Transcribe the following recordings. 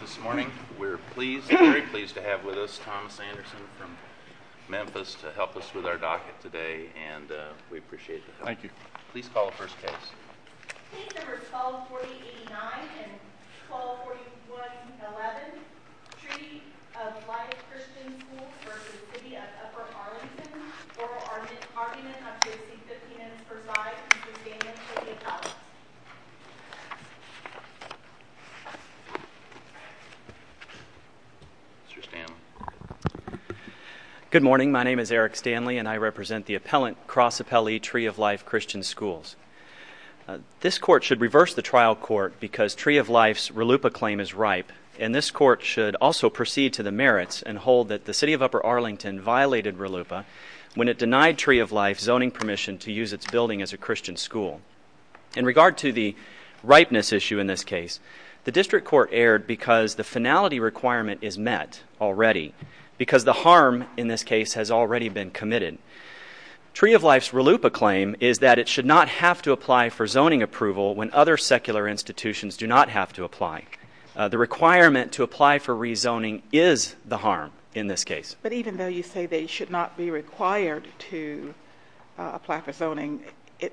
This morning, we're pleased, very pleased to have with us Thomas Anderson from Memphis to help us with our docket today, and we appreciate it. Thank you. Please call the first case. Case number 124089 and 124111, Treaty of Life Christian Schools v. City of Upper Arlington, Oral Argument of J.C. Fittin and Persaud, Mr. Stanley. Good morning. My name is Eric Stanley, and I represent the appellant, Cross Appellee, Tree of Life Christian Schools. This court should reverse the trial court because Tree of Life's RLUIPA claim is ripe, and this court should also proceed to the merits and hold that the City of Upper Arlington violated RLUIPA when it denied Tree of Life zoning permission to use its building as a Christian school. In regard to the ripeness issue in this case, the district court erred because the finality requirement is met already, because the harm in this case has already been committed. Tree of Life's RLUIPA claim is that it should not have to apply for zoning approval when other secular institutions do not have to apply. The requirement to apply for rezoning is the harm in this case. But even though you say they should not be required to apply for zoning,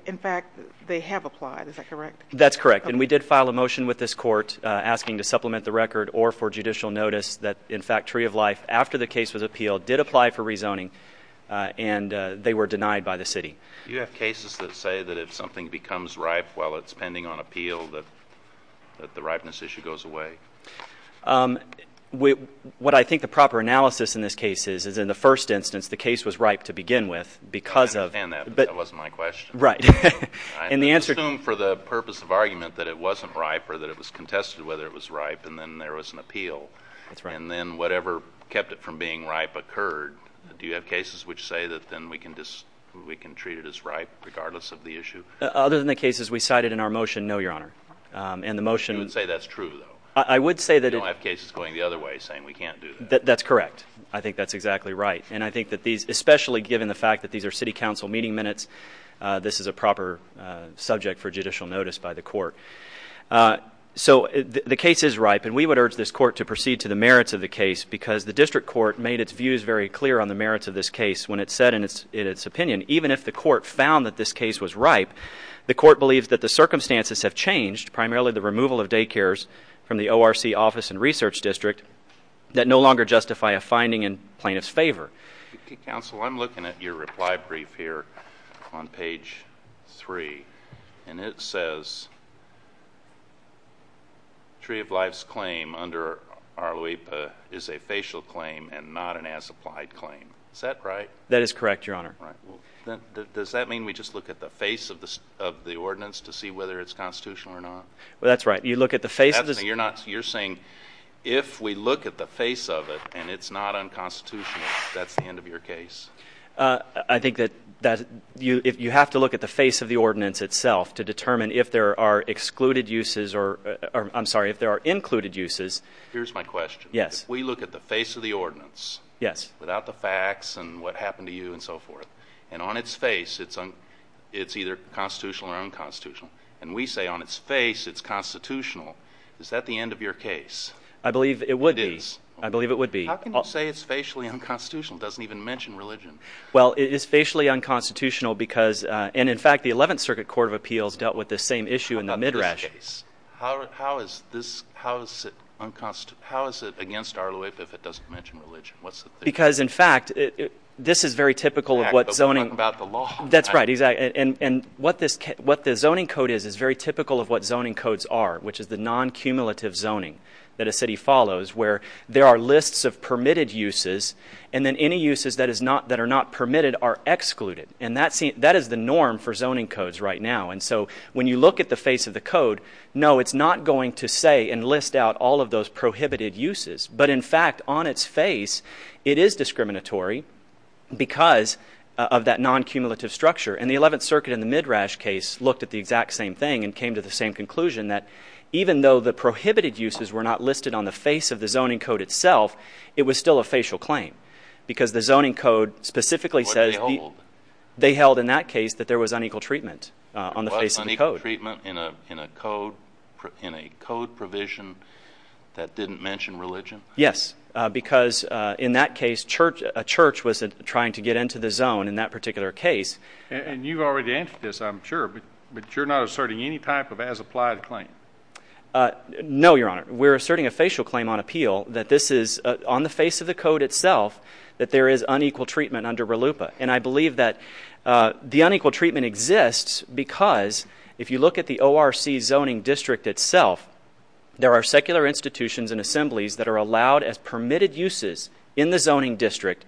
in fact, they have applied, is that correct? That's correct, and we did file a motion with this court asking to supplement the record or for judicial notice that, in fact, Tree of Life, after the case was appealed, did apply for rezoning, and they were denied by the City. Do you have cases that say that if something becomes ripe while it's pending on appeal, that the ripeness issue goes away? What I think the proper analysis in this case is, is in the first instance, the case was ripe to begin with, because of— I understand that, but that wasn't my question. Right. I assume for the purpose of argument that it wasn't ripe or that it was contested whether it was ripe and then there was an appeal. That's right. And then whatever kept it from being ripe occurred. Do you have cases which say that then we can treat it as ripe regardless of the issue? Other than the cases we cited in our motion, no, Your Honor. And the motion— You would say that's true, though? I would say that— You don't have cases going the other way saying we can't do that? That's correct. I think that's exactly right. And I think that these—especially given the fact that these are City Council meeting minutes, this is a proper subject for judicial notice by the court. So the case is ripe, and we would urge this court to proceed to the merits of the case, because the district court made its views very clear on the merits of this case when it said in its opinion, even if the court found that this case was ripe, the court believes that the circumstances have changed, primarily the removal of daycares from the ORC Office and Research District, that no longer justify a finding in plaintiff's favor. Counsel, I'm looking at your reply brief here on page 3, and it says Tree of Life's claim under Arloepa is a facial claim and not an as-applied claim. Is that right? That is correct, Your Honor. Does that mean we just look at the face of the ordinance to see whether it's constitutional or not? That's right. You look at the face of the— I think that you have to look at the face of the ordinance itself to determine if there are excluded uses or—I'm sorry, if there are included uses. Here's my question. Yes. If we look at the face of the ordinance— Yes. —without the facts and what happened to you and so forth, and on its face it's either constitutional or unconstitutional, and we say on its face it's constitutional, is that the end of your case? I believe it would be. It is. I believe it would be. How can you say it's facially unconstitutional? It doesn't even mention religion. Well, it is facially unconstitutional because—and, in fact, the Eleventh Circuit Court of Appeals dealt with this same issue in the midrash. What about this case? How is this—how is it against Arloepa if it doesn't mention religion? What's the theory? Because, in fact, this is very typical of what zoning— We're talking about the law. That's right. Exactly. And what the zoning code is is very typical of what zoning codes are, which is the non-cumulative zoning that a city follows where there are lists of permitted uses and then any uses that are not permitted are excluded. And that is the norm for zoning codes right now. And so when you look at the face of the code, no, it's not going to say and list out all of those prohibited uses. But, in fact, on its face it is discriminatory because of that non-cumulative structure. And the Eleventh Circuit in the midrash case looked at the exact same thing and came to the same conclusion that even though the prohibited uses were not listed on the face of the zoning code itself, it was still a facial claim because the zoning code specifically says— What they hold. They held in that case that there was unequal treatment on the face of the code. There was unequal treatment in a code provision that didn't mention religion? Yes, because in that case a church was trying to get into the zone in that particular case. And you've already answered this, I'm sure, but you're not asserting any type of as-applied claim? No, Your Honor. We're asserting a facial claim on appeal that this is on the face of the code itself that there is unequal treatment under RLUIPA. And I believe that the unequal treatment exists because if you look at the ORC zoning district itself, there are secular institutions and assemblies that are allowed as permitted uses in the zoning district,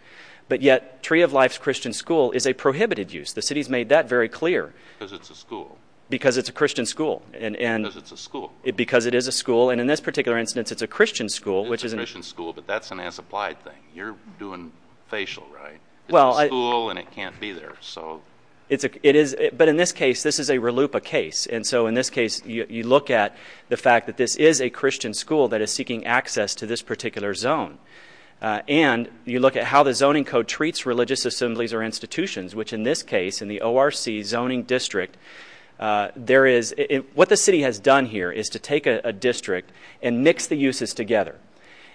but yet Tree of Life's Christian School is a prohibited use. The city's made that very clear. Because it's a school. Because it's a Christian school. Because it's a school. Because it is a school. And in this particular instance, it's a Christian school, which is— It's a Christian school, but that's an as-applied thing. You're doing facial, right? It's a school and it can't be there. But in this case, this is a RLUIPA case. And so in this case, you look at the fact that this is a Christian school that is seeking access to this particular zone. And you look at how the zoning code treats religious assemblies or institutions, which in this case, in the ORC zoning district, there is— What the city has done here is to take a district and mix the uses together.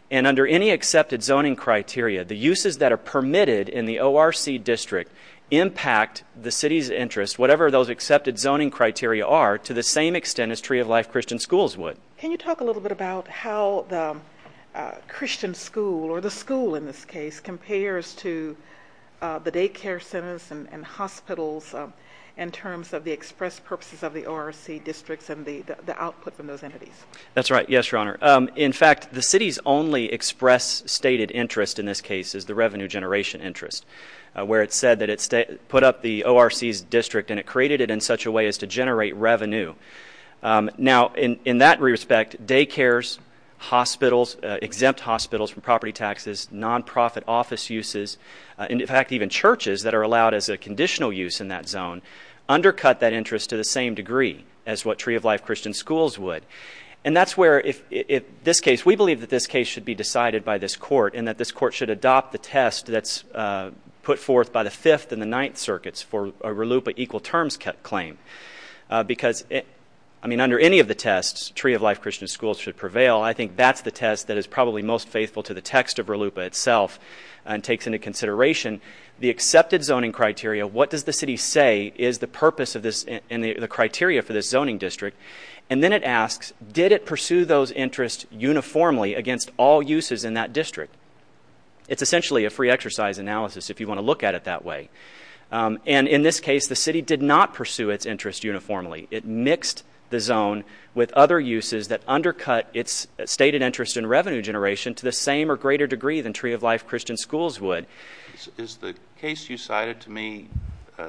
And under any accepted zoning criteria, the uses that are permitted in the ORC district impact the city's interest, whatever those accepted zoning criteria are, to the same extent as Tree of Life Christian Schools would. Can you talk a little bit about how the Christian school, or the school in this case, compares to the daycare centers and hospitals in terms of the express purposes of the ORC districts and the output from those entities? That's right. Yes, Your Honor. In fact, the city's only express stated interest in this case is the revenue generation interest, where it said that it put up the ORC's district and it created it in such a way as to generate revenue. Now, in that respect, daycares, hospitals, exempt hospitals from property taxes, nonprofit office uses, and in fact, even churches that are allowed as a conditional use in that zone, undercut that interest to the same degree as what Tree of Life Christian Schools would. And that's where, in this case, we believe that this case should be decided by this court and that this court should adopt the test that's put forth by the Fifth and the Ninth Circuits for a RLUIPA equal terms claim. Because, I mean, under any of the tests, Tree of Life Christian Schools should prevail. I think that's the test that is probably most faithful to the text of RLUIPA itself and takes into consideration the accepted zoning criteria. What does the city say is the purpose of this and the criteria for this zoning district? And then it asks, did it pursue those interests uniformly against all uses in that district? It's essentially a free exercise analysis if you want to look at it that way. And in this case, the city did not pursue its interest uniformly. It mixed the zone with other uses that undercut its stated interest in revenue generation to the same or greater degree than Tree of Life Christian Schools would. Is the case you cited to me,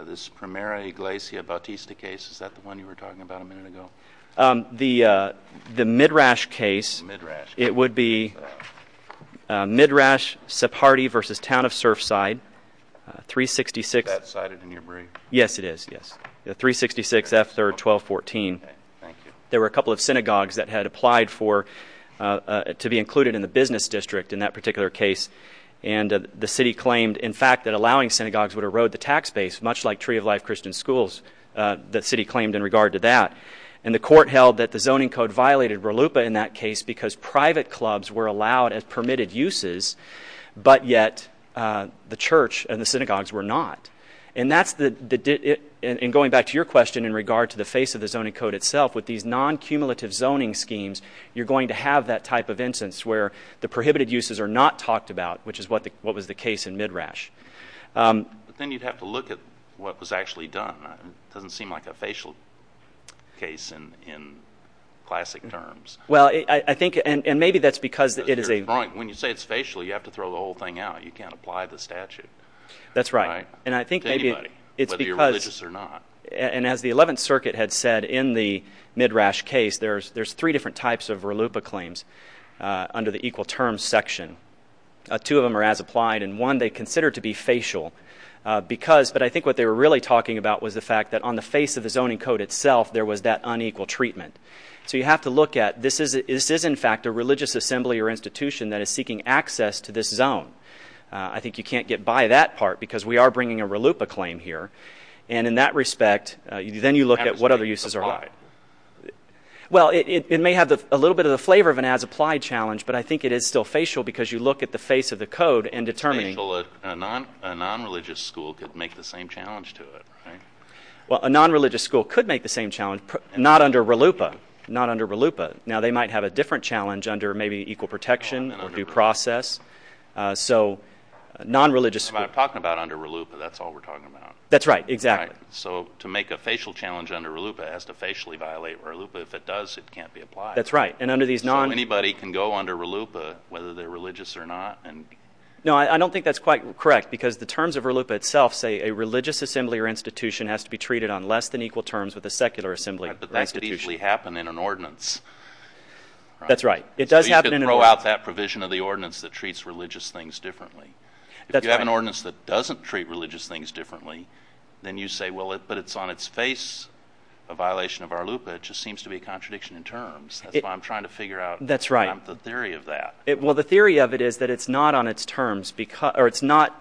this Primera Iglesia Bautista case, is that the one you were talking about a minute ago? The Midrash case, it would be Midrash-Sephardi v. Town of Surfside, 366- Is that cited in your brief? Yes, it is, yes. 366 F. 3rd, 1214. Thank you. There were a couple of synagogues that had applied to be included in the business district in that particular case. And the city claimed, in fact, that allowing synagogues would erode the tax base, much like Tree of Life Christian Schools, the city claimed in regard to that. And the court held that the zoning code violated RLUIPA in that case because private clubs were allowed as permitted uses, but yet the church and the synagogues were not. And going back to your question in regard to the face of the zoning code itself, with these non-cumulative zoning schemes, you're going to have that type of instance where the prohibited uses are not talked about, which is what was the case in Midrash. But then you'd have to look at what was actually done. It doesn't seem like a facial case in classic terms. Well, I think, and maybe that's because it is a... When you say it's facial, you have to throw the whole thing out. You can't apply the statute. That's right. To anybody, whether you're religious or not. And as the 11th Circuit had said in the Midrash case, there's three different types of RLUIPA claims under the equal terms section. Two of them are as applied, and one they consider to be facial. But I think what they were really talking about was the fact that on the face of the zoning code itself there was that unequal treatment. So you have to look at this is, in fact, a religious assembly or institution that is seeking access to this zone. I think you can't get by that part because we are bringing a RLUIPA claim here. And in that respect, then you look at what other uses are applied. Well, it may have a little bit of the flavor of an as applied challenge, but I think it is still facial because you look at the face of the code and determine... A non-religious school could make the same challenge to it, right? Well, a non-religious school could make the same challenge, not under RLUIPA. Not under RLUIPA. Now, they might have a different challenge under maybe equal protection or due process. So non-religious... I'm talking about under RLUIPA. That's all we're talking about. That's right. Exactly. So to make a facial challenge under RLUIPA has to facially violate RLUIPA. If it does, it can't be applied. That's right. And under these non... So anybody can go under RLUIPA, whether they're religious or not. No, I don't think that's quite correct because the terms of RLUIPA itself say a religious assembly or institution has to be treated on less than equal terms with a secular assembly or institution. But that could easily happen in an ordinance. That's right. It does happen in an ordinance. So you could throw out that provision of the ordinance that treats religious things differently. That's right. If you have an ordinance that doesn't treat religious things differently, then you say, well, but it's on its face a violation of RLUIPA. It just seems to be a contradiction in terms. That's why I'm trying to figure out the theory of that. Well, the theory of it is that it's not on its terms or it's not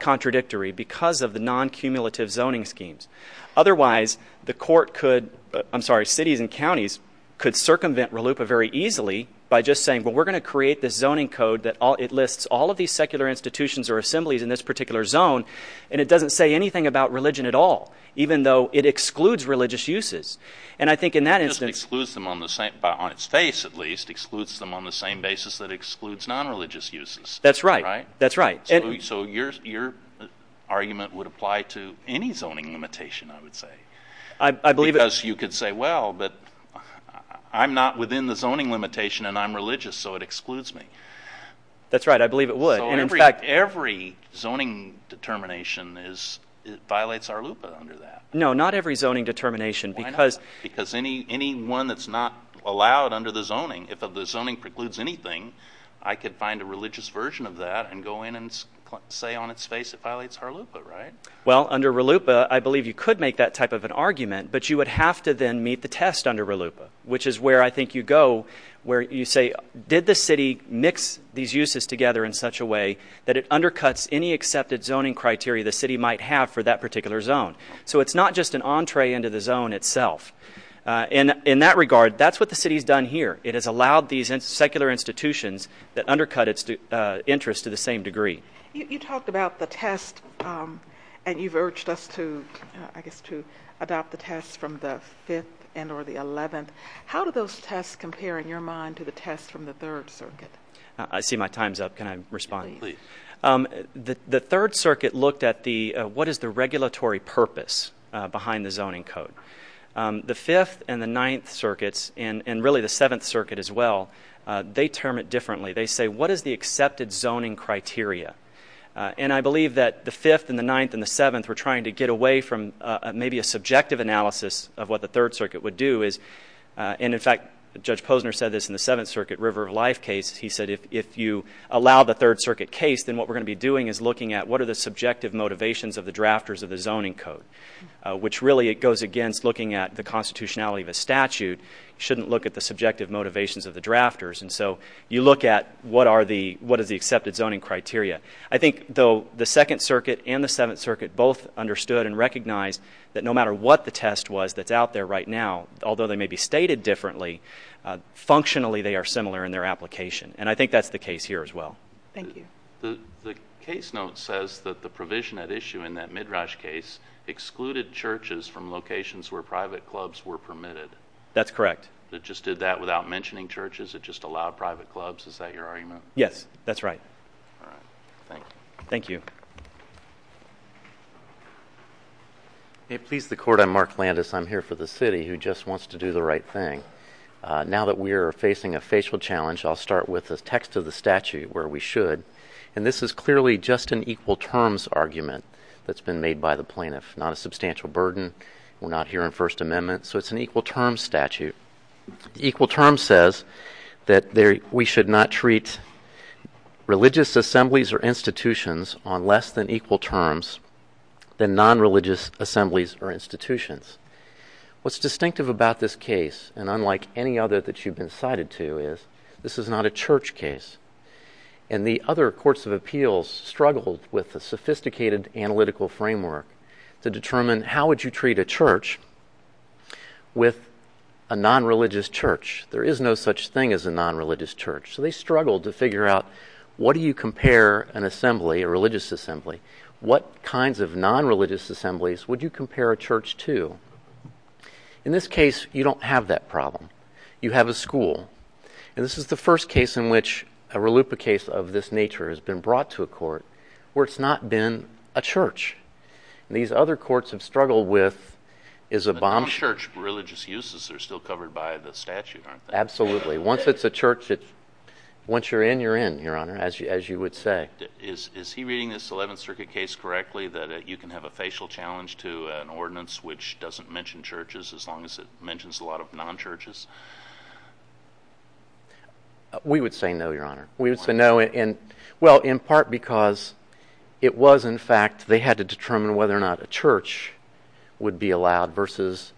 contradictory because of the non-cumulative zoning schemes. Otherwise, the court could... I'm sorry, cities and counties could circumvent RLUIPA very easily by just saying, well, we're going to create this zoning code that lists all of these secular institutions or assemblies in this particular zone, and it doesn't say anything about religion at all, even though it excludes religious uses. And I think in that instance... It just excludes them on the same... On a basis that excludes non-religious uses. That's right. That's right. So your argument would apply to any zoning limitation, I would say. I believe it... Because you could say, well, but I'm not within the zoning limitation and I'm religious, so it excludes me. That's right. I believe it would. And in fact... So every zoning determination violates RLUIPA under that. No, not every zoning determination because... Why not? Because any one that's not allowed under the zoning, if the zoning precludes anything, I could find a religious version of that and go in and say on its face it violates RLUIPA, right? Well, under RLUIPA, I believe you could make that type of an argument, but you would have to then meet the test under RLUIPA, which is where I think you go where you say, did the city mix these uses together in such a way that it undercuts any accepted zoning criteria the city might have for that particular zone? So it's not just an entree into the zone itself. In that regard, that's what the city's done here. It has allowed these secular institutions that undercut its interests to the same degree. You talked about the test, and you've urged us to adopt the test from the 5th and or the 11th. How do those tests compare, in your mind, to the test from the 3rd Circuit? I see my time's up. Can I respond? Please. The 3rd Circuit looked at what is the regulatory purpose behind the zoning code. The 5th and the 9th Circuits, and really the 7th Circuit as well, they term it differently. They say, what is the accepted zoning criteria? I believe that the 5th and the 9th and the 7th were trying to get away from maybe a subjective analysis of what the 3rd Circuit would do. In fact, Judge Posner said this in the 7th Circuit River of Life case. He said, if you allow the 3rd Circuit case, then what we're going to be doing is looking at what are the subjective motivations of the drafters of the zoning code, which really goes against looking at the constitutionality of a statute shouldn't look at the subjective motivations of the drafters. And so you look at what is the accepted zoning criteria. I think, though, the 2nd Circuit and the 7th Circuit both understood and recognized that no matter what the test was that's out there right now, although they may be stated differently, functionally they are similar in their application. And I think that's the case here as well. Thank you. The case note says that the provision at issue in that Midrash case excluded churches from locations where private clubs were permitted. That's correct. It just did that without mentioning churches? It just allowed private clubs? Is that your argument? Yes, that's right. All right. Thank you. Thank you. May it please the Court, I'm Mark Landis. I'm here for the city who just wants to do the right thing. Now that we are facing a facial challenge, I'll start with the text of the statute where we should. And this is clearly just an equal terms argument that's been made by the plaintiff, not a substantial burden. We're not hearing First Amendment, so it's an equal terms statute. Equal terms says that we should not treat religious assemblies or institutions on less than equal terms than non-religious assemblies or institutions. What's distinctive about this case, and unlike any other that you've been cited to, is this is not a church case. And the other courts of appeals struggled with a sophisticated analytical framework to determine how would you treat a church with a non-religious church. There is no such thing as a non-religious church. So they struggled to figure out what do you compare an assembly, a religious assembly, what kinds of non-religious assemblies would you compare a church to? In this case, you don't have that problem. You have a school. And this is the first case in which a RLUIPA case of this nature has been brought to a court where it's not been a church. And these other courts have struggled with is a bomb. But non-church religious uses are still covered by the statute, aren't they? Absolutely. Once it's a church, once you're in, you're in, Your Honor, as you would say. Is he reading this Eleventh Circuit case correctly, that you can have a facial challenge to an ordinance which doesn't mention churches as long as it mentions a lot of non-churches? We would say no, Your Honor. Why? Well, in part because it was, in fact, they had to determine whether or not a church would be allowed versus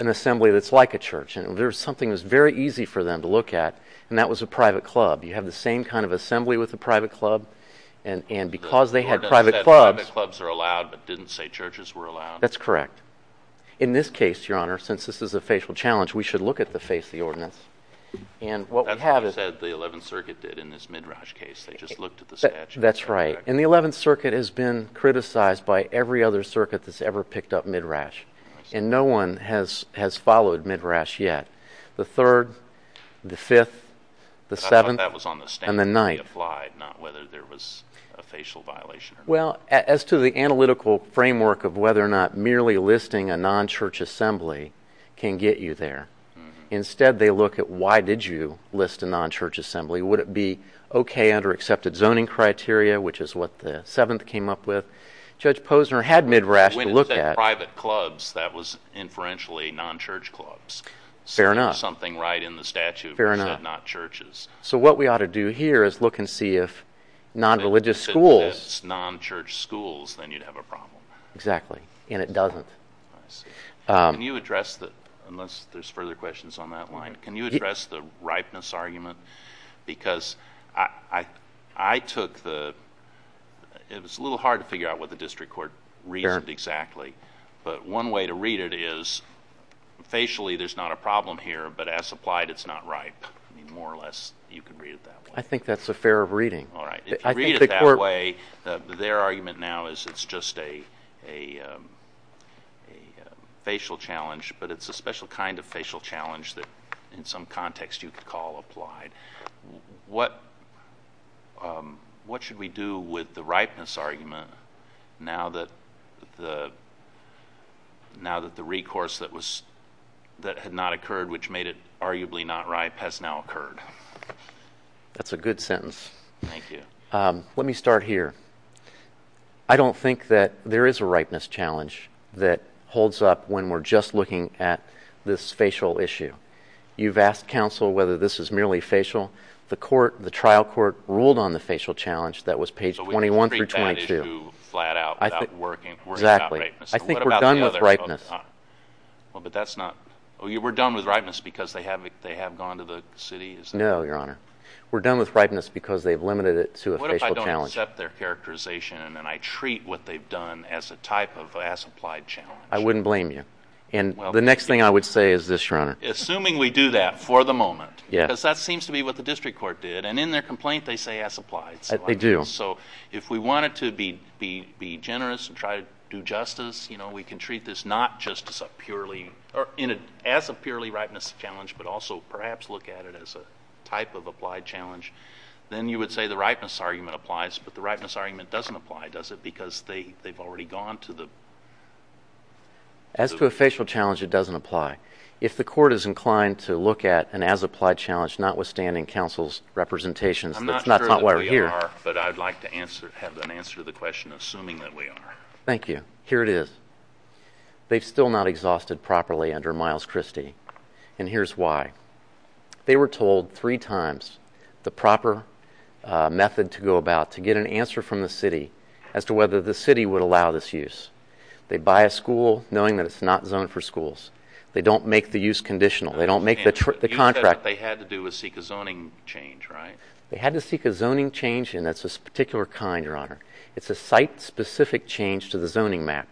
an assembly that's like a church. And there was something that was very easy for them to look at, and that was a private club. You have the same kind of assembly with a private club. And because they had private clubs— The ordinance said private clubs are allowed but didn't say churches were allowed. That's correct. In this case, Your Honor, since this is a facial challenge, we should look at the face of the ordinance. And what we have is— That's what they said the Eleventh Circuit did in this Midrash case. They just looked at the statute. That's right. And the Eleventh Circuit has been criticized by every other circuit that's ever picked up Midrash. And no one has followed Midrash yet. The Third, the Fifth, the Seventh, and the Ninth. I thought that was on the standard that we applied, not whether there was a facial violation or not. Well, as to the analytical framework of whether or not merely listing a non-church assembly can get you there, instead they look at why did you list a non-church assembly. Would it be okay under accepted zoning criteria, which is what the Seventh came up with? Judge Posner had Midrash to look at. When it said private clubs, that was inferentially non-church clubs. Something right in the statute that said not churches. So what we ought to do here is look and see if non-religious schools— If it says non-church schools, then you'd have a problem. Exactly, and it doesn't. I see. Can you address the—unless there's further questions on that line—can you address the ripeness argument? Because I took the—it was a little hard to figure out what the district court reasoned exactly. But one way to read it is facially there's not a problem here, but as applied, it's not ripe. More or less you could read it that way. I think that's a fair reading. All right. If you read it that way, their argument now is it's just a facial challenge, but it's a special kind of facial challenge that in some context you could call applied. What should we do with the ripeness argument now that the recourse that had not occurred, which made it arguably not ripe, has now occurred? That's a good sentence. Thank you. Let me start here. I don't think that there is a ripeness challenge that holds up when we're just looking at this facial issue. You've asked counsel whether this is merely facial. The trial court ruled on the facial challenge that was page 21 through 22. So we can treat that issue flat out without working on ripeness. Exactly. I think we're done with ripeness. We're done with ripeness because they have gone to the city? No, Your Honor. We're done with ripeness because they've limited it to a facial challenge. What if I don't accept their characterization and I treat what they've done as a type of as applied challenge? I wouldn't blame you. The next thing I would say is this, Your Honor. Assuming we do that for the moment, because that seems to be what the district court did, and in their complaint they say as applied. They do. So if we wanted to be generous and try to do justice, we can treat this not just as a purely ripeness challenge but also perhaps look at it as a type of applied challenge. Then you would say the ripeness argument applies, but the ripeness argument doesn't apply, does it, because they've already gone to the? As to a facial challenge, it doesn't apply. If the court is inclined to look at an as applied challenge notwithstanding counsel's representations, that's not why we're here. I'm not sure that we are, but I'd like to have an answer to the question assuming that we are. Thank you. Here it is. They've still not exhausted properly under Miles Christie, and here's why. They were told three times the proper method to go about to get an answer from the city as to whether the city would allow this use. They buy a school knowing that it's not zoned for schools. They don't make the use conditional. You said what they had to do was seek a zoning change, right? They had to seek a zoning change, and that's a particular kind, Your Honor. It's a site-specific change to the zoning map.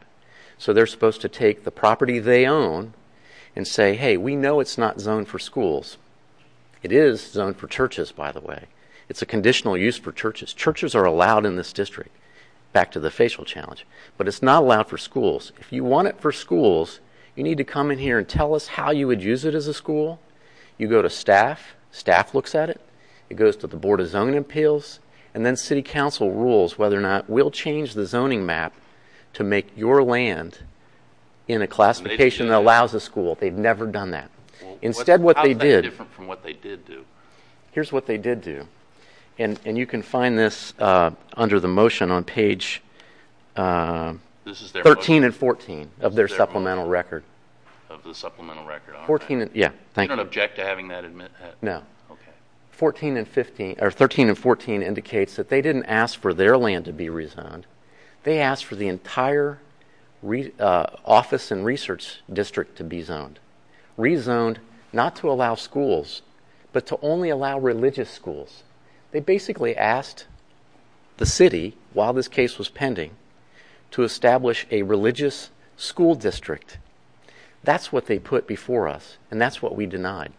So they're supposed to take the property they own and say, hey, we know it's not zoned for schools. It is zoned for churches, by the way. It's a conditional use for churches. Churches are allowed in this district, back to the facial challenge, but it's not allowed for schools. If you want it for schools, you need to come in here and tell us how you would use it as a school. You go to staff. Staff looks at it. It goes to the Board of Zoning Appeals, and then city council rules whether or not we'll change the zoning map to make your land in a classification that allows a school. They've never done that. Instead, what they did. How is that different from what they did do? Here's what they did do, and you can find this under the motion on page 13 and 14. Of their supplemental record. Of the supplemental record. You don't object to having that? No. 13 and 14 indicates that they didn't ask for their land to be rezoned. They asked for the entire office and research district to be zoned. Rezoned not to allow schools, but to only allow religious schools. They basically asked the city, while this case was pending, to establish a religious school district. That's what they put before us, and that's what we denied.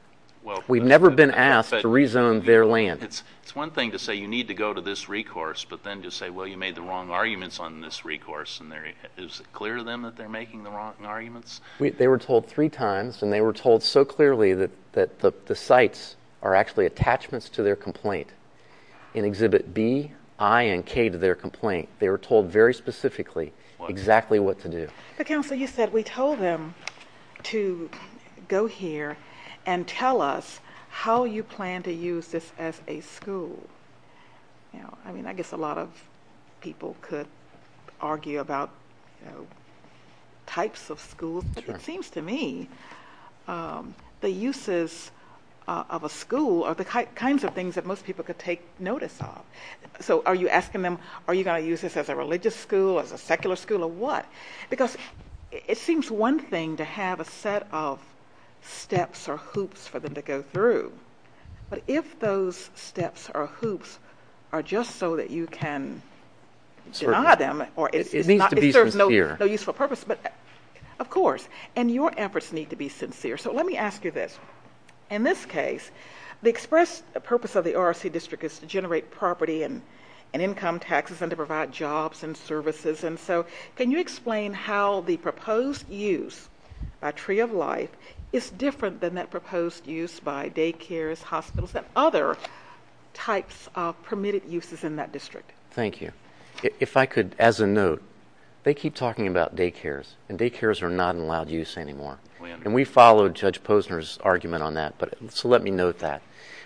We've never been asked to rezone their land. It's one thing to say you need to go to this recourse, but then to say, well, you made the wrong arguments on this recourse. Is it clear to them that they're making the wrong arguments? They were told three times, and they were told so clearly that the sites are actually attachments to their complaint. In Exhibit B, I, and K to their complaint. They were told very specifically exactly what to do. But, counsel, you said we told them to go here and tell us how you plan to use this as a school. I guess a lot of people could argue about types of schools. But it seems to me the uses of a school are the kinds of things that most people could take notice of. So are you asking them, are you going to use this as a religious school, as a secular school, or what? Because it seems one thing to have a set of steps or hoops for them to go through. But if those steps or hoops are just so that you can deny them, it serves no useful purpose. But, of course, and your efforts need to be sincere. So let me ask you this. In this case, the express purpose of the ORC district is to generate property and income taxes and to provide jobs and services. And so can you explain how the proposed use by Tree of Life is different than that proposed use by daycares, hospitals, and other types of permitted uses in that district? Thank you. If I could, as a note, they keep talking about daycares. And daycares are not allowed use anymore. And we followed Judge Posner's argument on that. So let me note that.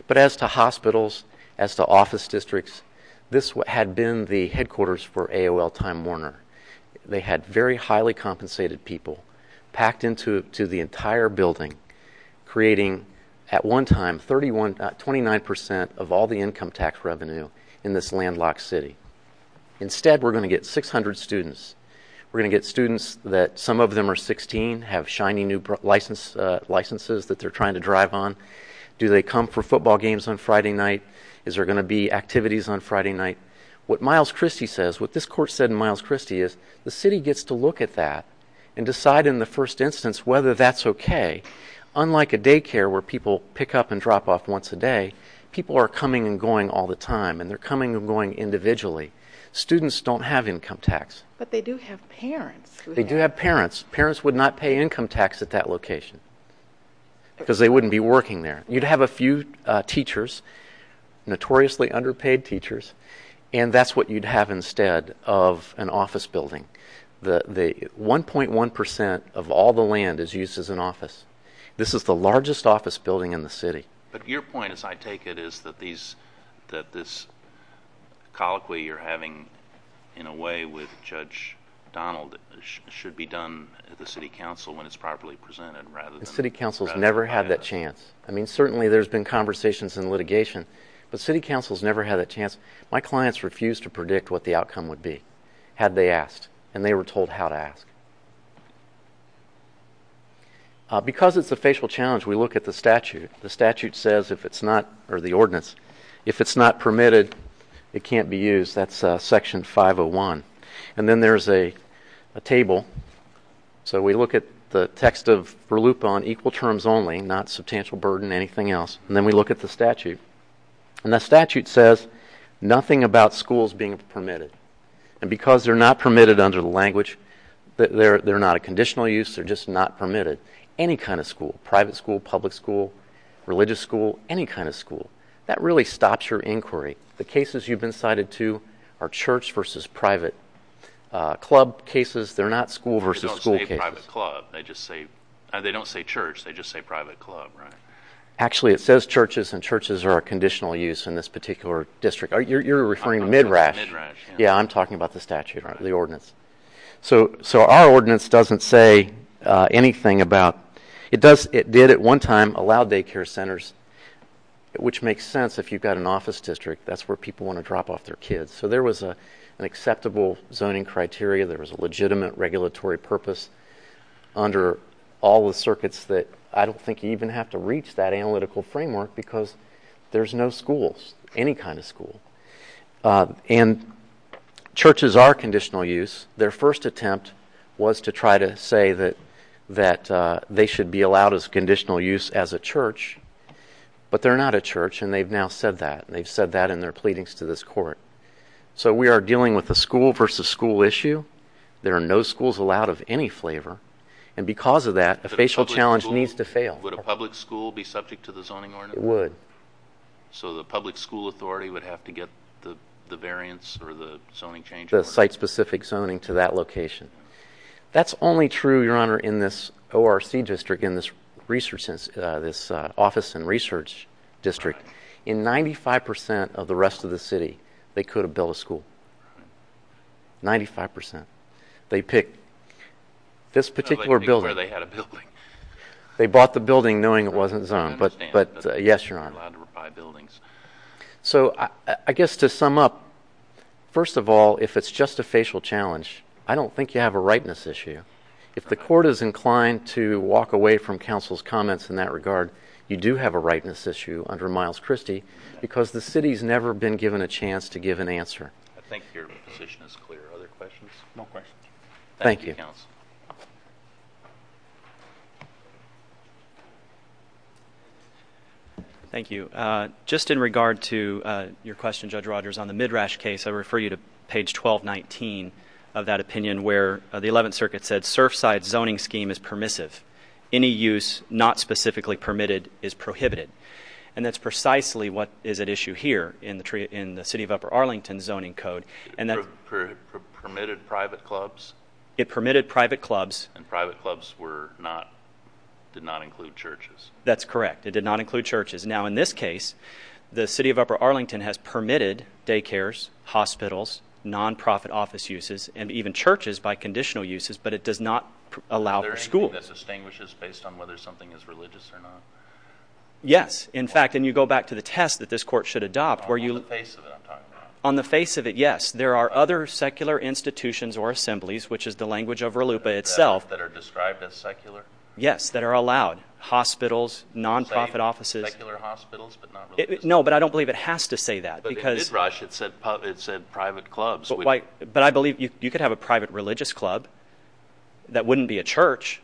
But as to hospitals, as to office districts, this had been the headquarters for AOL Time Warner. They had very highly compensated people packed into the entire building, creating at one time 29% of all the income tax revenue in this landlocked city. Instead, we're going to get 600 students. We're going to get students that some of them are 16, have shiny new licenses that they're trying to drive on. Do they come for football games on Friday night? Is there going to be activities on Friday night? What Miles Christy says, what this court said in Miles Christy is the city gets to look at that and decide in the first instance whether that's okay. Unlike a daycare where people pick up and drop off once a day, people are coming and going all the time. And they're coming and going individually. Students don't have income tax. But they do have parents. They do have parents. Parents would not pay income tax at that location because they wouldn't be working there. You'd have a few teachers, notoriously underpaid teachers, and that's what you'd have instead of an office building. 1.1% of all the land is used as an office. This is the largest office building in the city. But your point, as I take it, is that this colloquy you're having in a way with Judge Donald should be done at the city council when it's properly presented. The city council's never had that chance. I mean, certainly there's been conversations in litigation, but city council's never had that chance. My clients refused to predict what the outcome would be had they asked, and they were told how to ask. Because it's a facial challenge, we look at the statute. The statute says if it's not, or the ordinance, if it's not permitted, it can't be used. That's section 501. And then there's a table. So we look at the text of Verluppa on equal terms only, not substantial burden, anything else. And then we look at the statute. And the statute says nothing about schools being permitted. And because they're not permitted under the language, they're not a conditional use, they're just not permitted. Any kind of school, private school, public school, religious school, any kind of school. That really stops your inquiry. The cases you've been cited to are church versus private. Club cases, they're not school versus school cases. They don't say private club. They don't say church. They just say private club, right? Actually, it says churches, and churches are a conditional use in this particular district. You're referring to Midrash? Yeah, I'm talking about the statute, the ordinance. So our ordinance doesn't say anything about, it did at one time allow daycare centers, which makes sense if you've got an office district. That's where people want to drop off their kids. So there was an acceptable zoning criteria. There was a legitimate regulatory purpose under all the circuits that I don't think you even have to reach that analytical framework. Because there's no schools, any kind of school. And churches are conditional use. Their first attempt was to try to say that they should be allowed as conditional use as a church. But they're not a church, and they've now said that. They've said that in their pleadings to this court. So we are dealing with a school versus school issue. There are no schools allowed of any flavor. And because of that, a facial challenge needs to fail. Would a public school be subject to the zoning ordinance? It would. So the public school authority would have to get the variance or the zoning change? The site-specific zoning to that location. That's only true, Your Honor, in this ORC district, in this office and research district. In 95% of the rest of the city, they could have built a school. 95%. They picked where they had a building. They bought the building knowing it wasn't zoned. But, yes, Your Honor. They're allowed to buy buildings. So I guess to sum up, first of all, if it's just a facial challenge, I don't think you have a rightness issue. If the court is inclined to walk away from counsel's comments in that regard, you do have a rightness issue under Miles Christie. Because the city's never been given a chance to give an answer. I think your position is clear. Other questions? No questions. Thank you, counsel. Thank you. Just in regard to your question, Judge Rogers, on the Midrash case, I refer you to page 1219 of that opinion where the Eleventh Circuit said, Surfside zoning scheme is permissive. Any use not specifically permitted is prohibited. And that's precisely what is at issue here in the city of Upper Arlington zoning code. It permitted private clubs? It permitted private clubs. And private clubs did not include churches? That's correct. It did not include churches. Now, in this case, the city of Upper Arlington has permitted daycares, hospitals, non-profit office uses, and even churches by conditional uses, but it does not allow for schools. Is there anything that distinguishes based on whether something is religious or not? Yes. In fact, and you go back to the test that this court should adopt. On the face of it I'm talking about. On the face of it, yes. There are other secular institutions or assemblies, which is the language of RLUIPA itself. That are described as secular? Yes, that are allowed. Hospitals, non-profit offices. Secular hospitals, but not religious? No, but I don't believe it has to say that. But in Midrash it said private clubs. But I believe you could have a private religious club that wouldn't be a church.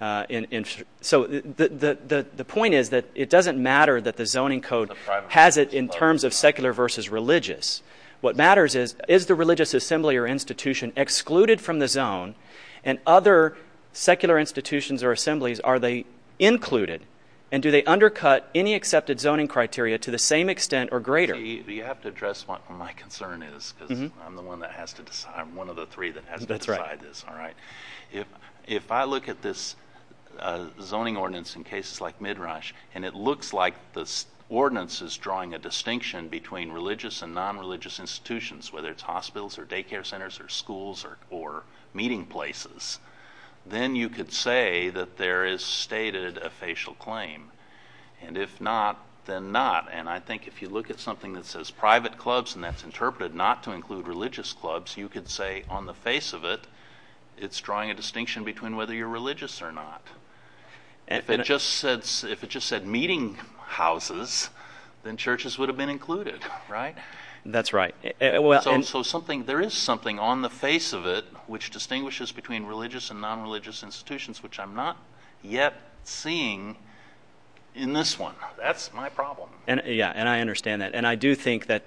So the point is that it doesn't matter that the zoning code has it in terms of secular versus religious. What matters is, is the religious assembly or institution excluded from the zone? And other secular institutions or assemblies, are they included? And do they undercut any accepted zoning criteria to the same extent or greater? You have to address what my concern is because I'm the one that has to decide. I'm one of the three that has to decide this. That's right. If I look at this zoning ordinance in cases like Midrash. And it looks like this ordinance is drawing a distinction between religious and non-religious institutions. Whether it's hospitals or daycare centers or schools or meeting places. Then you could say that there is stated a facial claim. And if not, then not. And I think if you look at something that says private clubs and that's interpreted not to include religious clubs. You could say on the face of it, it's drawing a distinction between whether you're religious or not. If it just said meeting houses, then churches would have been included, right? That's right. So there is something on the face of it which distinguishes between religious and non-religious institutions, which I'm not yet seeing in this one. That's my problem. Yeah, and I understand that. And I do think that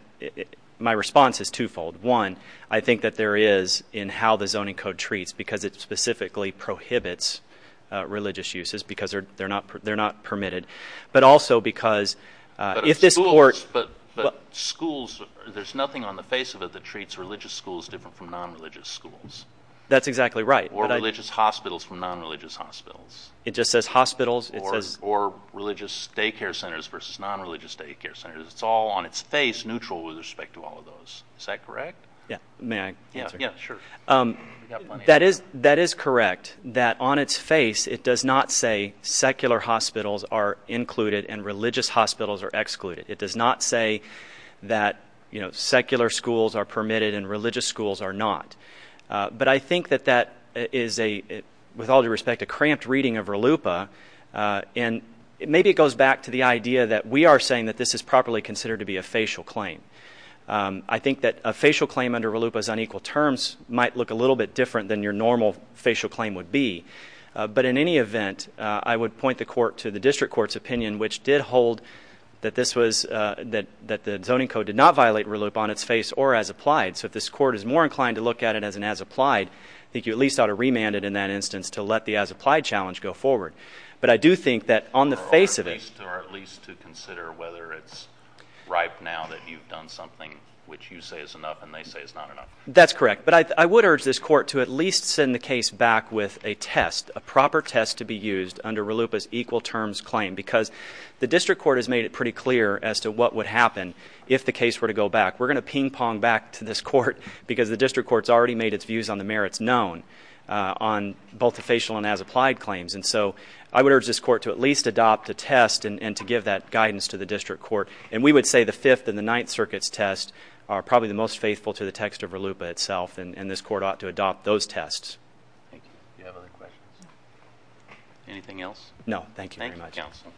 my response is twofold. One, I think that there is in how the zoning code treats because it specifically prohibits religious uses because they're not permitted. But also because if this court. But schools, there's nothing on the face of it that treats religious schools different from non-religious schools. That's exactly right. Or religious hospitals from non-religious hospitals. It just says hospitals. Or religious daycare centers versus non-religious daycare centers. It's all on its face neutral with respect to all of those. Is that correct? May I answer? Yeah, sure. That is correct that on its face it does not say secular hospitals are included and religious hospitals are excluded. It does not say that secular schools are permitted and religious schools are not. But I think that that is, with all due respect, a cramped reading of RLUIPA. And maybe it goes back to the idea that we are saying that this is properly considered to be a facial claim. I think that a facial claim under RLUIPA's unequal terms might look a little bit different than your normal facial claim would be. But in any event, I would point the court to the district court's opinion, which did hold that the zoning code did not violate RLUIPA on its face or as applied. So if this court is more inclined to look at it as an as applied, I think you at least ought to remand it in that instance to let the as applied challenge go forward. But I do think that on the face of it. Or at least to consider whether it's ripe now that you've done something which you say is enough and they say is not enough. That's correct. But I would urge this court to at least send the case back with a test, a proper test to be used under RLUIPA's equal terms claim. Because the district court has made it pretty clear as to what would happen if the case were to go back. We're going to ping pong back to this court because the district court's already made its views on the merits known on both the facial and as applied claims. And so I would urge this court to at least adopt a test and to give that guidance to the district court. And we would say the Fifth and the Ninth Circuit's test are probably the most faithful to the text of RLUIPA itself. And this court ought to adopt those tests. Thank you. Do you have other questions? No. Anything else? No. Thank you very much. Thank you, counsel.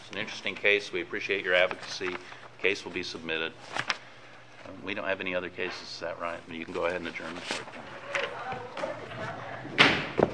It's an interesting case. We appreciate your advocacy. The case will be submitted. We don't have any other cases to that right. You can go ahead and adjourn the court.